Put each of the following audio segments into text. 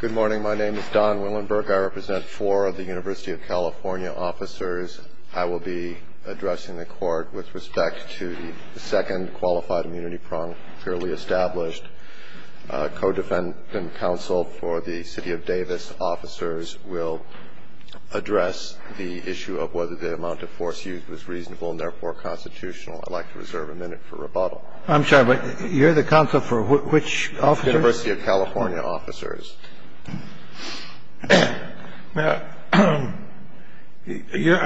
Good morning. My name is Don Willenberg. I represent four of the University of California officers. I will be addressing the court with respect to the second qualified immunity prong fairly established. Co-defendant counsel for the City of Davis officers will address the issue of whether the amount of force used was reasonable and therefore constitutional. I'd like to reserve a minute for rebuttal. I'm sorry, but you're the counsel for which officers? University of California officers. Now, I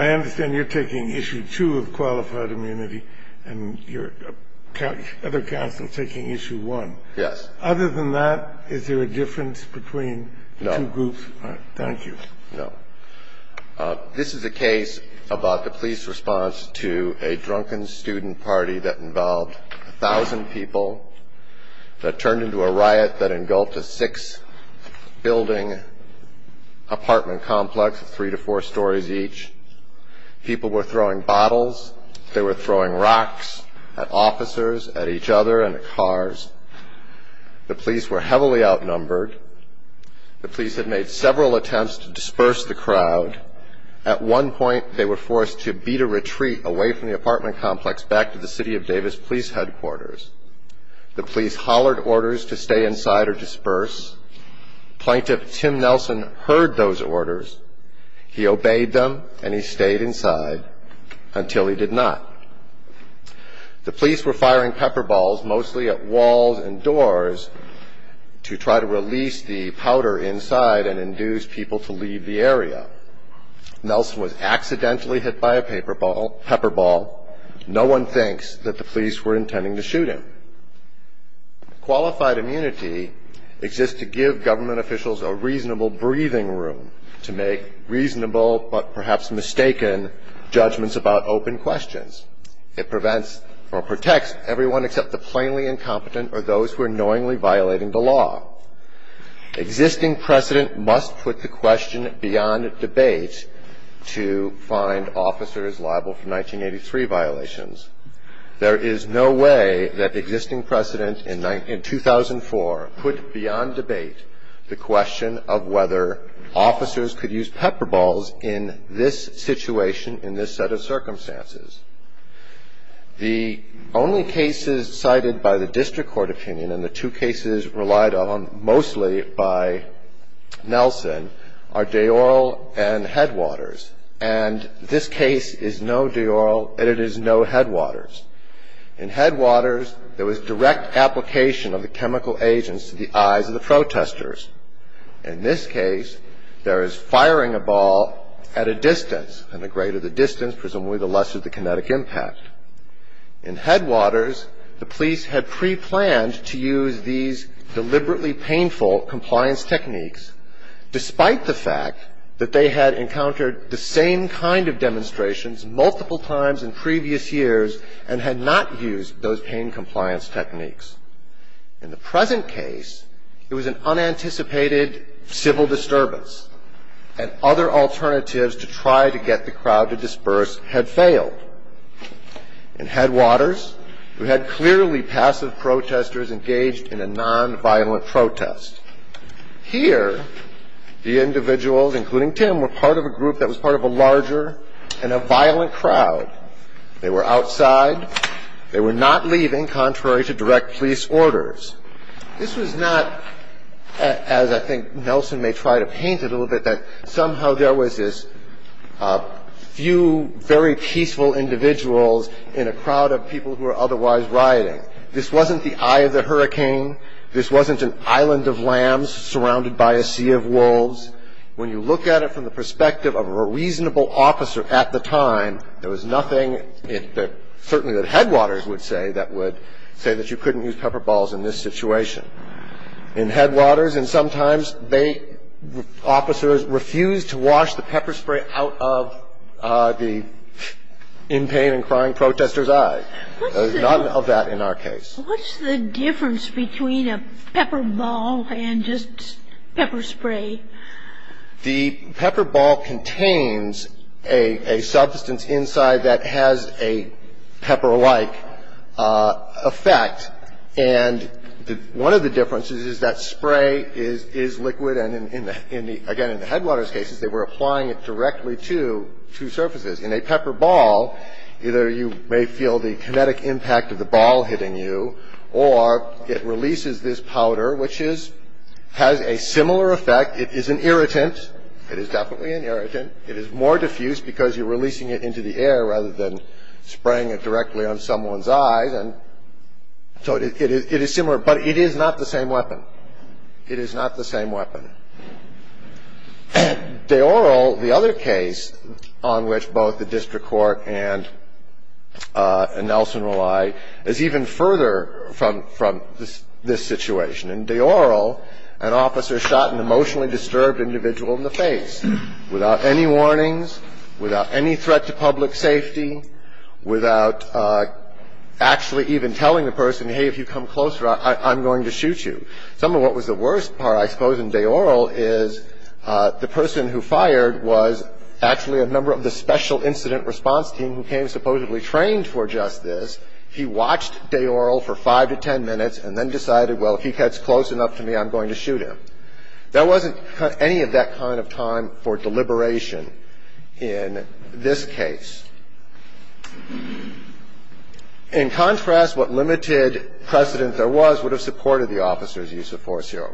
understand you're taking issue two of qualified immunity and your other counsel is taking issue one. Yes. Other than that, is there a difference between the two groups? No. Thank you. No. This is a case about the police response to a drunken student party that involved a thousand people, that turned into a riot that engulfed a six-building apartment complex of three to four stories each. People were throwing bottles. They were throwing rocks at officers, at each other, and at cars. The police were heavily outnumbered. The police had made several attempts to disperse the crowd. At one point, they were forced to beat a retreat away from the apartment complex back to the City of Davis police headquarters. The police hollered orders to stay inside or disperse. Plaintiff Tim Nelson heard those orders. He obeyed them and he stayed inside until he did not. The police were firing pepper balls mostly at walls and doors to try to release the powder inside and induce people to leave the area. Nelson was accidentally hit by a pepper ball. No one thinks that the police were intending to shoot him. Qualified immunity exists to give government officials a reasonable breathing room to make reasonable but perhaps mistaken judgments about open questions. It prevents or protects everyone except the plainly incompetent or those who are knowingly violating the law. Existing precedent must put the question beyond debate to find officers liable for 1983 violations. There is no way that existing precedent in 2004 put beyond debate the question of whether officers could use pepper balls in this situation, in this set of circumstances. The only cases cited by the district court opinion and the two cases relied on mostly by Nelson are Dayoral and Headwaters. And this case is no Dayoral and it is no Headwaters. In Headwaters, there was direct application of the chemical agents to the eyes of the protesters. In this case, there is firing a ball at a distance. And the greater the distance, presumably the lesser the kinetic impact. In Headwaters, the police had preplanned to use these deliberately painful compliance techniques despite the fact that they had encountered the same kind of demonstrations multiple times in previous years and had not used those pain compliance techniques. In the present case, it was an unanticipated civil disturbance and other alternatives to try to get the crowd to disperse had failed. In Headwaters, we had clearly passive protesters engaged in a nonviolent protest. Here, the individuals, including Tim, were part of a group that was part of a larger and a violent crowd. They were outside. They were not leaving contrary to direct police orders. This was not, as I think Nelson may try to paint it a little bit, that somehow there was this few very peaceful individuals in a crowd of people who were otherwise rioting. This wasn't the eye of the hurricane. This wasn't an island of lambs surrounded by a sea of wolves. When you look at it from the perspective of a reasonable officer at the time, there was nothing certainly that Headwaters would say that you couldn't use pepper balls in this situation. In Headwaters, and sometimes officers refused to wash the pepper spray out of the in pain and crying protesters' eyes. None of that in our case. What's the difference between a pepper ball and just pepper spray? The pepper ball contains a substance inside that has a pepper-like effect. And one of the differences is that spray is liquid. And again, in the Headwaters cases, they were applying it directly to surfaces. In a pepper ball, either you may feel the kinetic impact of the ball hitting you, or it releases this powder, which has a similar effect. It is an irritant. It is definitely an irritant. It is more diffuse because you're releasing it into the air rather than spraying it directly on someone's eyes. And so it is similar, but it is not the same weapon. It is not the same weapon. In De Oro, the other case on which both the district court and Nelson rely is even further from this situation. In De Oro, an officer shot an emotionally disturbed individual in the face without any warnings, without any threat to public safety, without actually even telling the person, hey, if you come closer, I'm going to shoot you. Some of what was the worst part, I suppose, in De Oro is the person who fired was actually a member of the special incident response team who came supposedly trained for just this. He watched De Oro for five to ten minutes and then decided, well, if he gets close enough to me, I'm going to shoot him. There wasn't any of that kind of time for deliberation in this case. In contrast, what limited precedent there was would have supported the officer's use of force here.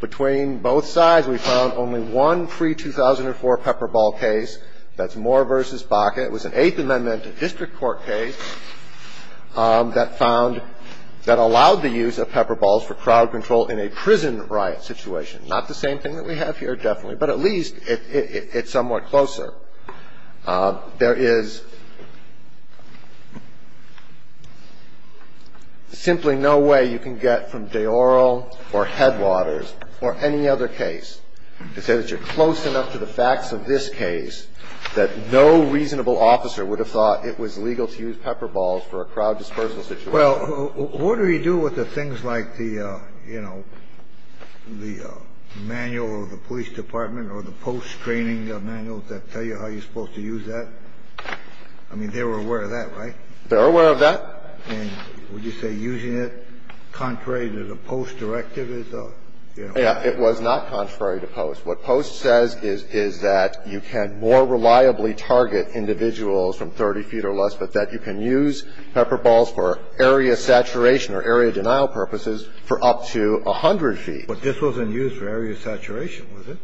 Between both sides, we found only one pre-2004 pepper ball case. That's Moore v. Baca. It was an Eighth Amendment district court case that allowed the use of pepper balls for crowd control in a prison riot situation. Not the same thing that we have here, definitely, but at least it's somewhat closer. There is simply no way you can get from De Oro or Headwaters or any other case to say that you're close enough to the facts of this case that no reasonable officer would have thought it was legal to use pepper balls for a crowd dispersal situation. Well, what do we do with the things like the, you know, the manual of the police department or the post-training manuals that tell you how you're supposed to use that? I mean, they were aware of that, right? They're aware of that. And would you say using it contrary to the post directive is a, you know? Yeah. It was not contrary to post. What post says is that you can more reliably target individuals from 30 feet or less, but that you can use pepper balls for area saturation or area denial purposes for up to 100 feet. But this wasn't used for area saturation, was it?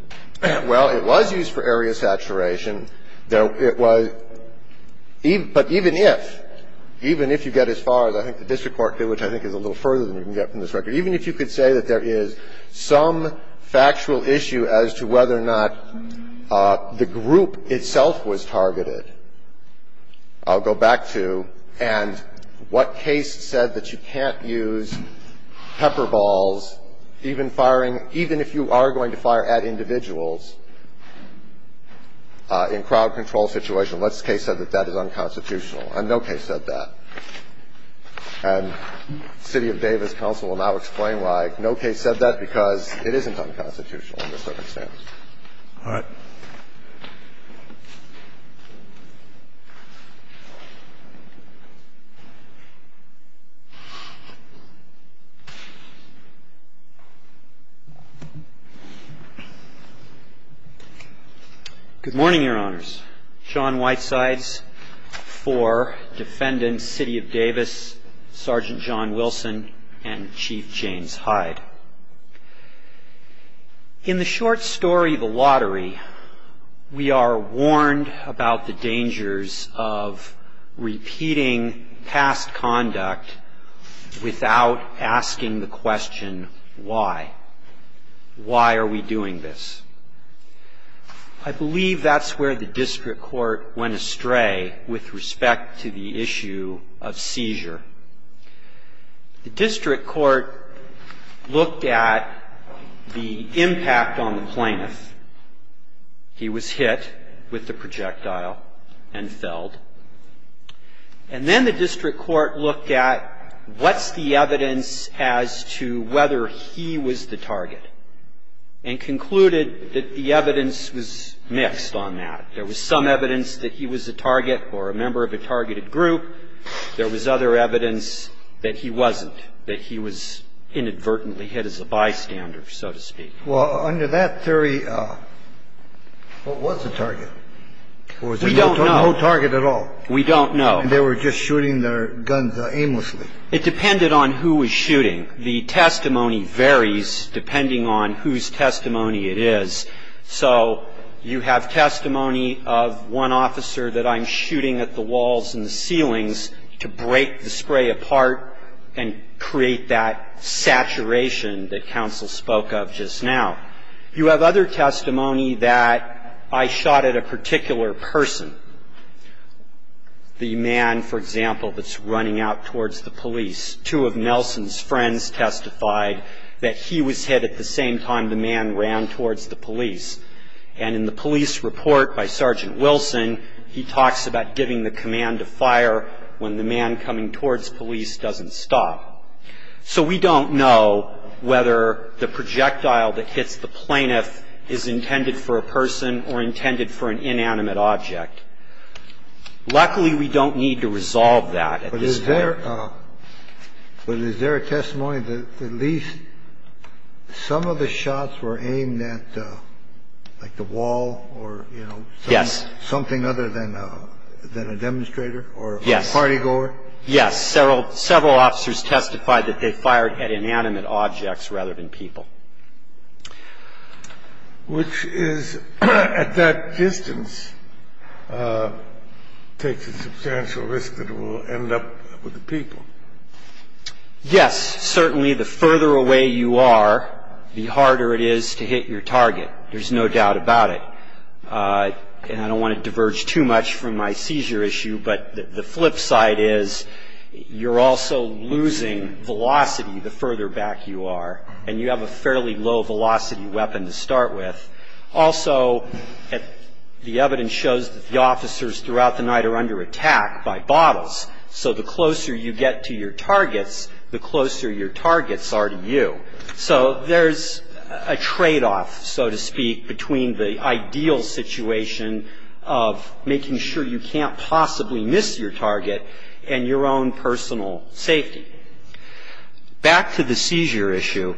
Well, it was used for area saturation. It was. But even if, even if you get as far as I think the district court did, which I think is a little further than you can get from this record, even if you could say that there is some factual issue as to whether or not the group itself was targeted, I'll go back to, and what case said that you can't use pepper balls even firing, even if you are going to fire at individuals in crowd control situations? What case said that that is unconstitutional? And no case said that. And city of Davis counsel will now explain why no case said that, because it isn't unconstitutional in this circumstance. All right. Good morning, Your Honors. John Whitesides, 4, defendant, city of Davis, Sergeant John Wilson, and Chief James Hyde. In the short story, The Lottery, we are warned about the dangers of repeating past conduct without asking the question, why? Why are we doing this? I believe that's where the district court went astray with respect to the issue of seizure. The district court looked at the impact on the plaintiff. He was hit with the projectile and felled. And then the district court looked at what's the evidence as to whether he was the target, and concluded that the evidence was mixed on that. There was some evidence that he was a target or a member of a targeted group. There was other evidence that he wasn't, that he was inadvertently hit as a bystander, so to speak. Well, under that theory, what was the target? We don't know. Or was there no target at all? We don't know. And they were just shooting their guns aimlessly. It depended on who was shooting. The testimony varies depending on whose testimony it is. So you have testimony of one officer that I'm shooting at the walls and the ceilings to break the spray apart and create that saturation that counsel spoke of just now. You have other testimony that I shot at a particular person, the man, for example, that's running out towards the police. So we don't know whether the projectile that hits the plaintiff is intended for a person or intended for an inanimate object. Luckily, we don't need to resolve that at this point. But is there a, is there a way to resolve that? I don't know. I don't know. But is there a testimony that at least some of the shots were aimed at, like, the wall or, you know? Yes. Something other than a demonstrator or a party goer? Yes. Several officers testified that they fired at inanimate objects rather than people. Which is, at that distance, takes a substantial risk that it will end up with the people. Yes. Certainly the further away you are, the harder it is to hit your target. There's no doubt about it. And I don't want to diverge too much from my seizure issue, but the flip side is you're also losing velocity the further back you are. And you have a fairly low velocity weapon to start with. Also, the evidence shows that the officers throughout the night are under attack by bottles. So the closer you get to your targets, the closer your targets are to you. So there's a tradeoff, so to speak, between the ideal situation of making sure you can't possibly miss your target and your own personal safety. Back to the seizure issue.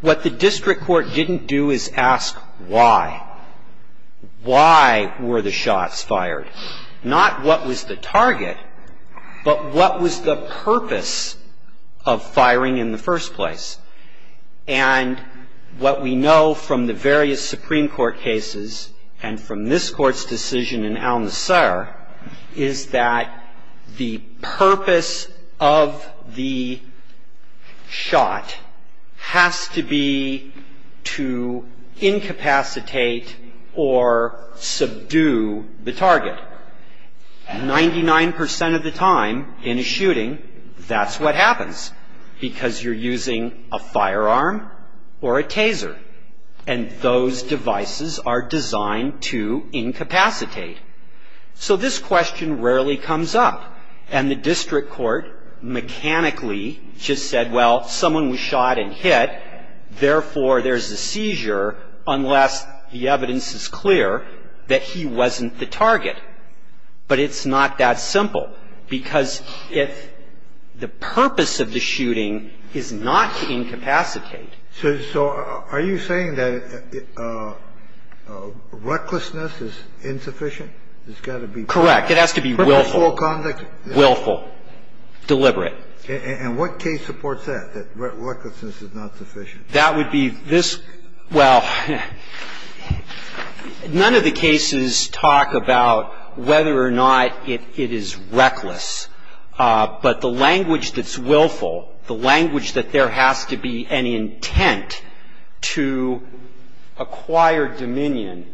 What the district court didn't do is ask why. Why were the shots fired? Not what was the target, but what was the purpose of firing in the first place? And what we know from the various Supreme Court cases and from this Court's decision in Al-Nusra is that the purpose of the shot has to be to incapacitate or subdue the target. Ninety-nine percent of the time in a shooting, that's what happens because you're using a firearm or a taser. And those devices are designed to incapacitate. So this question rarely comes up. And the district court mechanically just said, well, someone was shot and hit, therefore there's a seizure unless the evidence is clear that he wasn't the target. But it's not that simple because if the purpose of the shooting is not to incapacitate. So are you saying that recklessness is insufficient? It's got to be purposeful conduct? Correct. It has to be willful. Willful. Deliberate. And what case supports that, that recklessness is not sufficient? That would be this. Well, none of the cases talk about whether or not it is reckless. But the language that's willful, the language that there has to be an intent to acquire dominion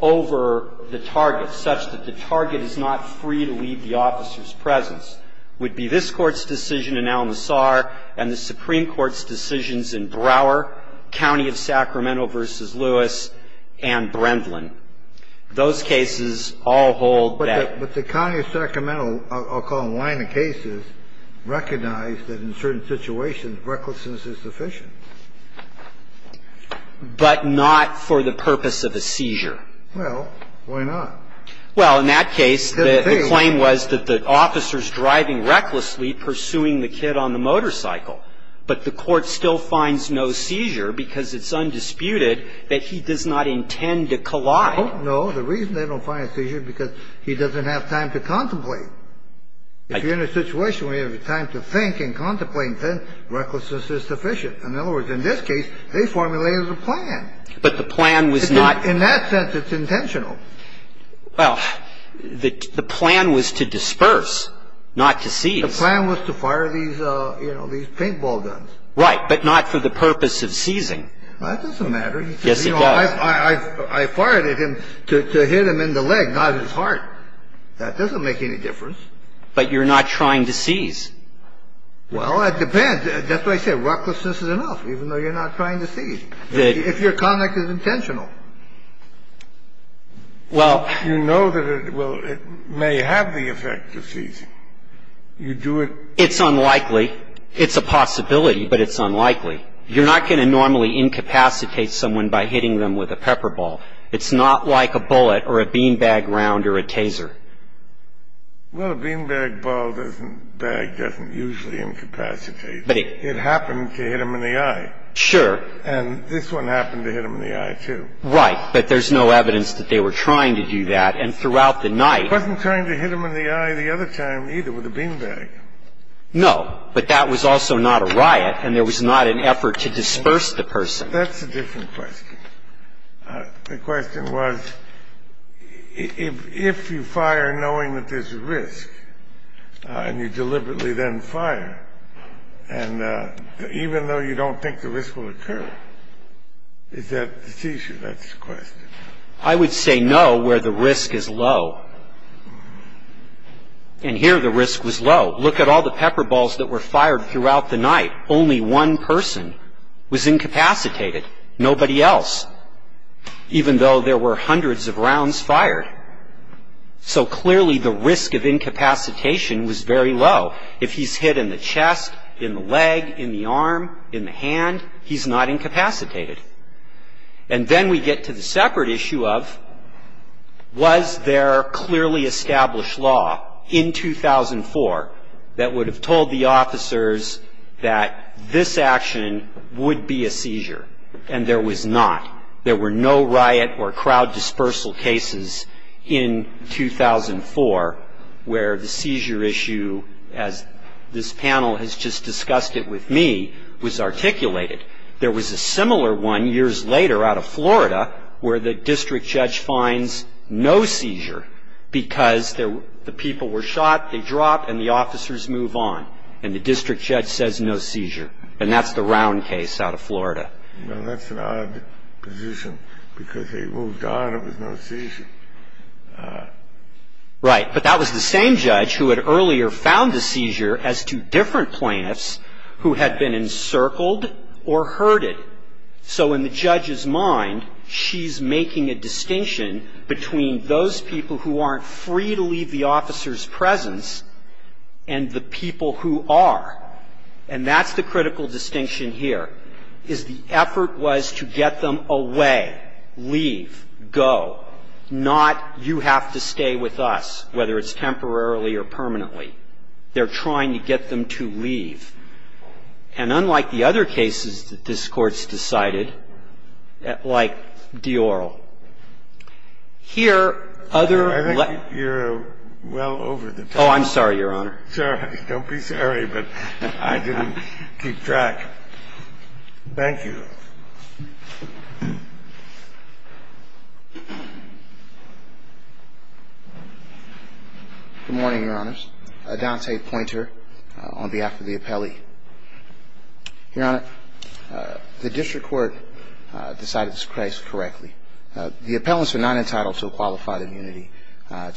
over the target such that the target is not free to leave the officer's presence would be this Court's decision in Al-Nassar and the Supreme Court's decision in Al-Nassar. And that would be this Court's decision in Al-Nassar. And the line of cases recognize that in certain situations recklessness is sufficient. But not for the purpose of a seizure. Well, why not? Well, in that case, the claim was that the officer's driving recklessly, pursuing the kid on the motorcycle. But the court still finds no seizure because it's undisputed that he does not intend to collide. No. The reason they don't find a seizure is because he doesn't have time to contemplate. If you're in a situation where you have time to think and contemplate, then recklessness is sufficient. In other words, in this case, they formulated a plan. But the plan was not. In that sense, it's intentional. Well, the plan was to disperse, not to seize. The plan was to fire these, you know, these paintball guns. Right, but not for the purpose of seizing. That doesn't matter. Yes, it does. I fired at him to hit him in the leg, not his heart. That doesn't make any difference. But you're not trying to seize. Well, it depends. That's what I said. Recklessness is enough, even though you're not trying to seize. If your conduct is intentional. Well. You know that it may have the effect of seizing. You do it. It's unlikely. It's a possibility, but it's unlikely. You're not going to normally incapacitate someone by hitting them with a pepper ball. It's not like a bullet or a beanbag round or a taser. Well, a beanbag ball doesn't, bag doesn't usually incapacitate. But it. It happened to hit him in the eye. Sure. And this one happened to hit him in the eye, too. Right, but there's no evidence that they were trying to do that. And throughout the night. I wasn't trying to hit him in the eye the other time, either, with a beanbag. No, but that was also not a riot, and there was not an effort to disperse the person. That's a different question. The question was, if you fire knowing that there's a risk, and you deliberately then fire, and even though you don't think the risk will occur, is that the seizure? That's the question. I would say no where the risk is low. And here the risk was low. Look at all the pepper balls that were fired throughout the night. Only one person was incapacitated. Nobody else. Even though there were hundreds of rounds fired. So clearly the risk of incapacitation was very low. If he's hit in the chest, in the leg, in the arm, in the hand, he's not incapacitated. And then we get to the separate issue of, was there clearly established law in 2004 that would have told the officers that this action would be a seizure? And there was not. There were no riot or crowd dispersal cases in 2004 where the seizure issue, as this panel has just discussed it with me, was articulated. There was a similar one years later out of Florida where the district judge finds no seizure because the people were shot, they dropped, and the officers move on. And the district judge says no seizure. And that's the round case out of Florida. Well, that's an odd position because they moved on, it was no seizure. Right. But that was the same judge who had earlier found the seizure as two different plaintiffs who had been encircled or herded. So in the judge's mind, she's making a distinction between those people who aren't free to leave the officer's presence and the people who are. And that's the critical distinction here, is the effort was to get them away, leave, go, not you have to stay with us, whether it's temporarily or permanently. They're trying to get them to leave. And unlike the other cases that this Court's decided, like Dioral, here other let I think you're well over the top. Oh, I'm sorry, Your Honor. Sorry. Don't be sorry, but I didn't keep track. Thank you. Good morning, Your Honors. Adante Poynter on behalf of the appellee. Your Honor, the district court decided this case correctly. The appellants are not entitled to a qualified immunity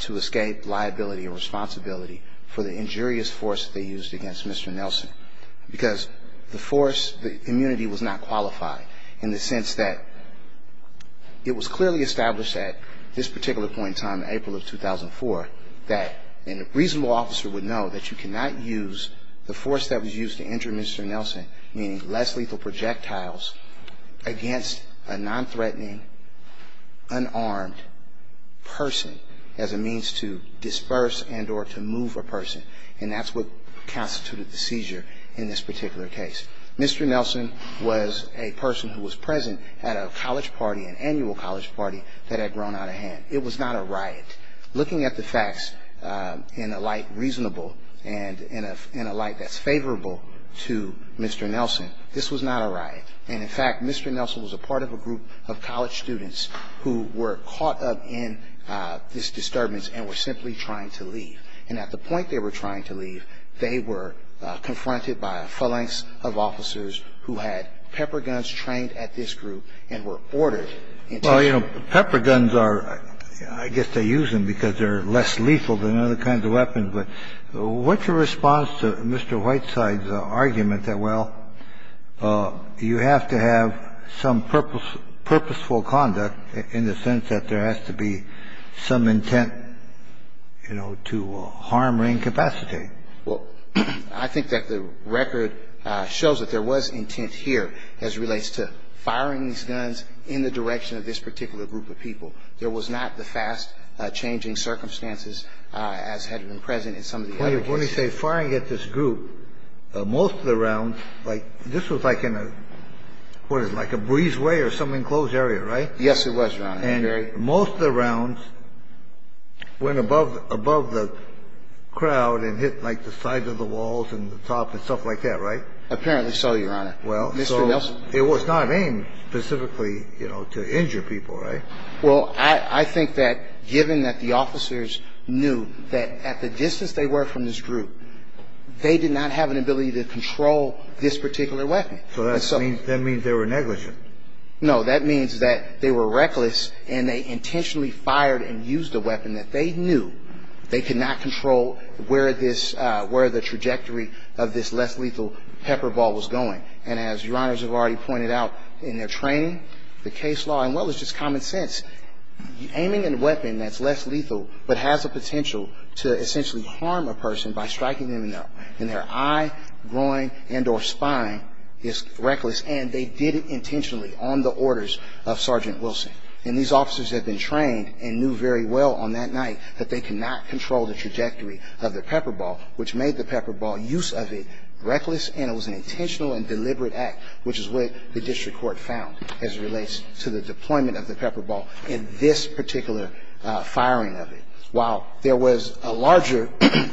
to escape liability or responsibility for the injurious force that they used against Mr. Nelson because the force, the immunity, was not qualified in the sense that it was clearly established at this particular point in time, April of 2004, that a reasonable officer would know that you cannot use the force that was used to injure Mr. Nelson, meaning less lethal projectiles, against a nonthreatening, unarmed person as a means to disperse and or to move a person. And that's what constituted the seizure in this particular case. Mr. Nelson was a person who was present at a college party, an annual college party, that had grown out of hand. It was not a riot. Looking at the facts in a light reasonable and in a light that's favorable to Mr. Nelson, this was not a riot. And, in fact, Mr. Nelson was a part of a group of college students who were caught up in this disturbance and were simply trying to leave. And at the point they were trying to leave, they were confronted by a phalanx of officers who had pepper guns trained at this group and were ordered into the group. Kennedy. Well, you know, pepper guns are, I guess they use them because they're less lethal than other kinds of weapons, but what's your response to Mr. Whiteside's argument that, well, you have to have some purposeful conduct in the sense that there has to be some intent, you know, to harm or incapacitate? Well, I think that the record shows that there was intent here as relates to firing these guns in the direction of this particular group of people. There was not the fast-changing circumstances as had been present in some of the other cases. Let me say, firing at this group, most of the rounds, like, this was like in a, what is it, like a breezeway or some enclosed area, right? Yes, it was, Your Honor. And most of the rounds went above the crowd and hit, like, the sides of the walls and the top and stuff like that, right? Apparently so, Your Honor. Well, so it was not aimed specifically, you know, to injure people, right? Well, I think that given that the officers knew that at the distance they were from this group, they did not have an ability to control this particular weapon. So that means they were negligent. No, that means that they were reckless and they intentionally fired and used a weapon that they knew they could not control where this, where the trajectory of this less lethal pepper ball was going. And as Your Honors have already pointed out in their training, the case law, and what was just common sense, aiming a weapon that's less lethal but has a potential to essentially harm a person by striking them in their eye, groin, and or spine is reckless. And they did it intentionally on the orders of Sergeant Wilson. And these officers had been trained and knew very well on that night that they could not control the trajectory of the pepper ball, which made the pepper ball use of it reckless. And it was an intentional and deliberate act, which is what the district court found as it relates to the deployment of the pepper ball in this particular firing of it. While there was a larger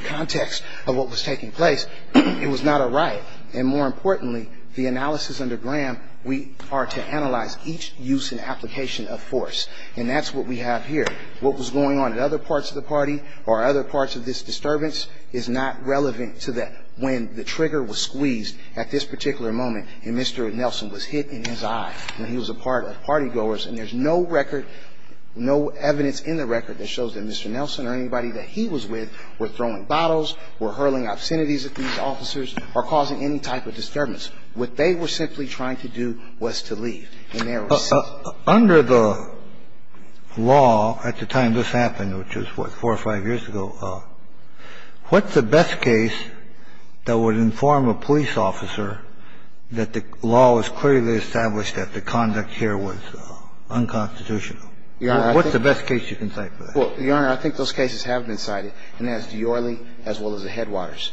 context of what was taking place, it was not a riot. And more importantly, the analysis under Graham, we are to analyze each use and application of force. And that's what we have here. What was going on at other parts of the party or other parts of this disturbance is not relevant to that when the trigger was squeezed at this particular moment and Mr. Nelson was hit in his eye. And he was a part of party goers. And there's no record, no evidence in the record that shows that Mr. Nelson or anybody that he was with were throwing bottles, were hurling obscenities at these officers, or causing any type of disturbance. What they were simply trying to do was to leave. And they were sent. Under the law at the time this happened, which was, what, four or five years ago, what's the best case that would inform a police officer that the law was clearly established that the conduct here was unconstitutional? What's the best case you can cite for that? Well, Your Honor, I think those cases have been cited. And that's Diorrele as well as the Headwaters.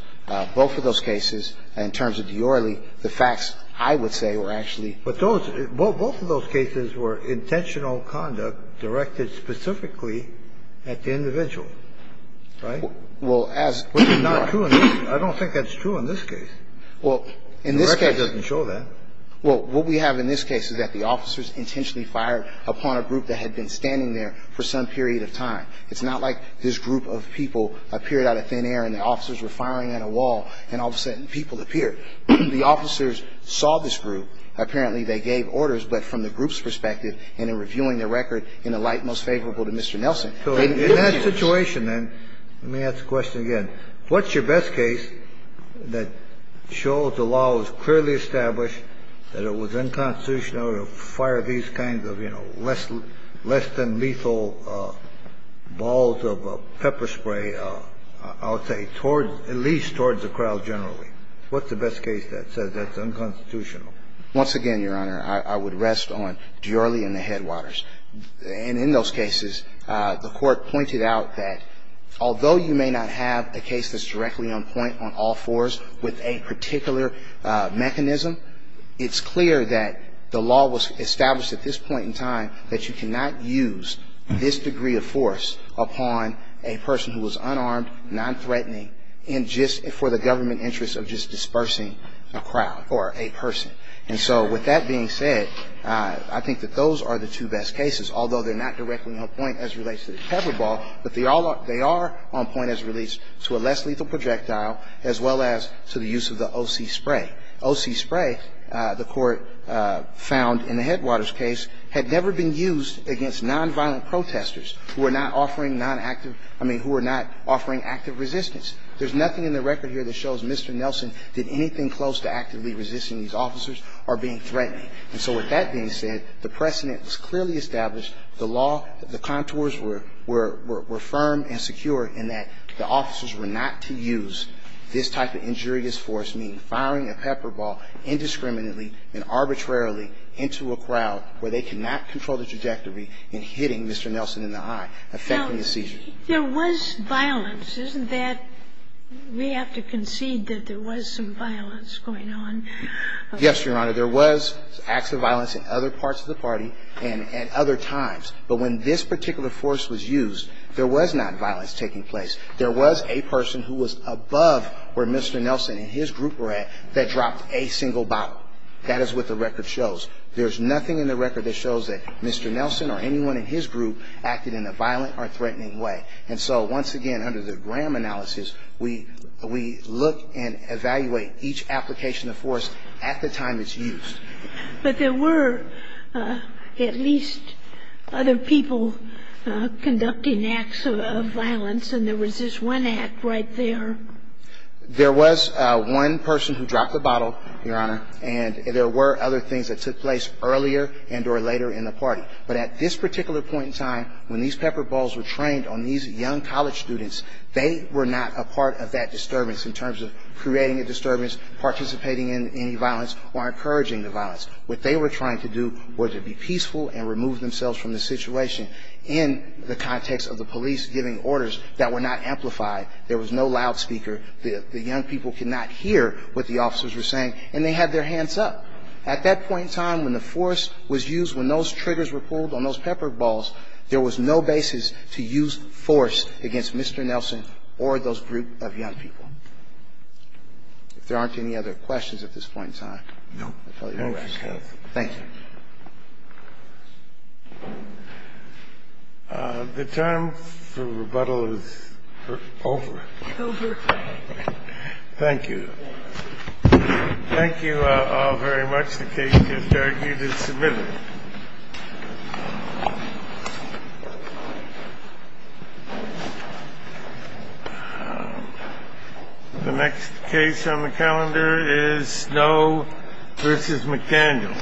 Both of those cases, in terms of Diorrele, the facts, I would say, were actually But those, both of those cases were intentional conduct directed specifically at the individual. Right? Well, as Which is not true. I don't think that's true in this case. Well, in this case The record doesn't show that. Well, what we have in this case is that the officers intentionally fired upon a group that had been standing there for some period of time. It's not like this group of people appeared out of thin air and the officers were firing at a wall and all of a sudden people appeared. The officers saw this group. Apparently, they gave orders, but from the group's perspective and in reviewing the record, in a light most favorable to Mr. Nelson. So in that situation, then, let me ask the question again. What's your best case that shows the law was clearly established, that it was unconstitutional to fire these kinds of, you know, less than lethal balls of pepper spray, I would say, towards, at least towards the crowd generally? What's the best case that says that's unconstitutional? Once again, Your Honor, I would rest on Diorrele and the Headwaters. And in those cases, the Court pointed out that although you may not have a case that's at this point in time that you cannot use this degree of force upon a person who was unarmed, nonthreatening, and just for the government interest of just dispersing a crowd or a person. And so with that being said, I think that those are the two best cases, although they're not directly on point as it relates to the pepper ball, but they are on point as it relates to a less lethal projectile as well as to the use of the OC spray. OC spray, the Court found in the Headwaters case, had never been used against nonviolent protesters who were not offering nonactive ñ I mean, who were not offering active resistance. There's nothing in the record here that shows Mr. Nelson did anything close to actively resisting these officers or being threatening. And so with that being said, the precedent was clearly established. The law, the contours were firm and secure in that the officers were not to use this type of injurious force, meaning firing a pepper ball indiscriminately and arbitrarily into a crowd where they cannot control the trajectory and hitting Mr. Nelson in the eye, effecting the seizure. Now, there was violence, isn't that ñ we have to concede that there was some violence going on? Yes, Your Honor. There was acts of violence in other parts of the party and at other times. But when this particular force was used, there was not violence taking place. There was a person who was above where Mr. Nelson and his group were at that dropped a single bottle. That is what the record shows. There's nothing in the record that shows that Mr. Nelson or anyone in his group acted in a violent or threatening way. And so once again, under the Graham analysis, we look and evaluate each application of force at the time it's used. But there were at least other people conducting acts of violence, and there was this one act right there. There was one person who dropped the bottle, Your Honor, and there were other things that took place earlier and or later in the party. But at this particular point in time, when these pepper balls were trained on these young college students, they were not a part of that disturbance in terms of creating a disturbance, participating in any violence, or encouraging the violence. What they were trying to do was to be peaceful and remove themselves from the situation. In the context of the police giving orders that were not amplified, there was no loudspeaker. The young people could not hear what the officers were saying, and they had their hands up. At that point in time when the force was used, when those triggers were pulled on those pepper balls, there was no basis to use force against Mr. Nelson or those group of young people. If there aren't any other questions at this point in time, I'll tell you the rest. Thank you. The term for rebuttal is over. Over. Thank you. Thank you all very much. The case is argued and submitted. The next case on the calendar is Snow v. McDaniel.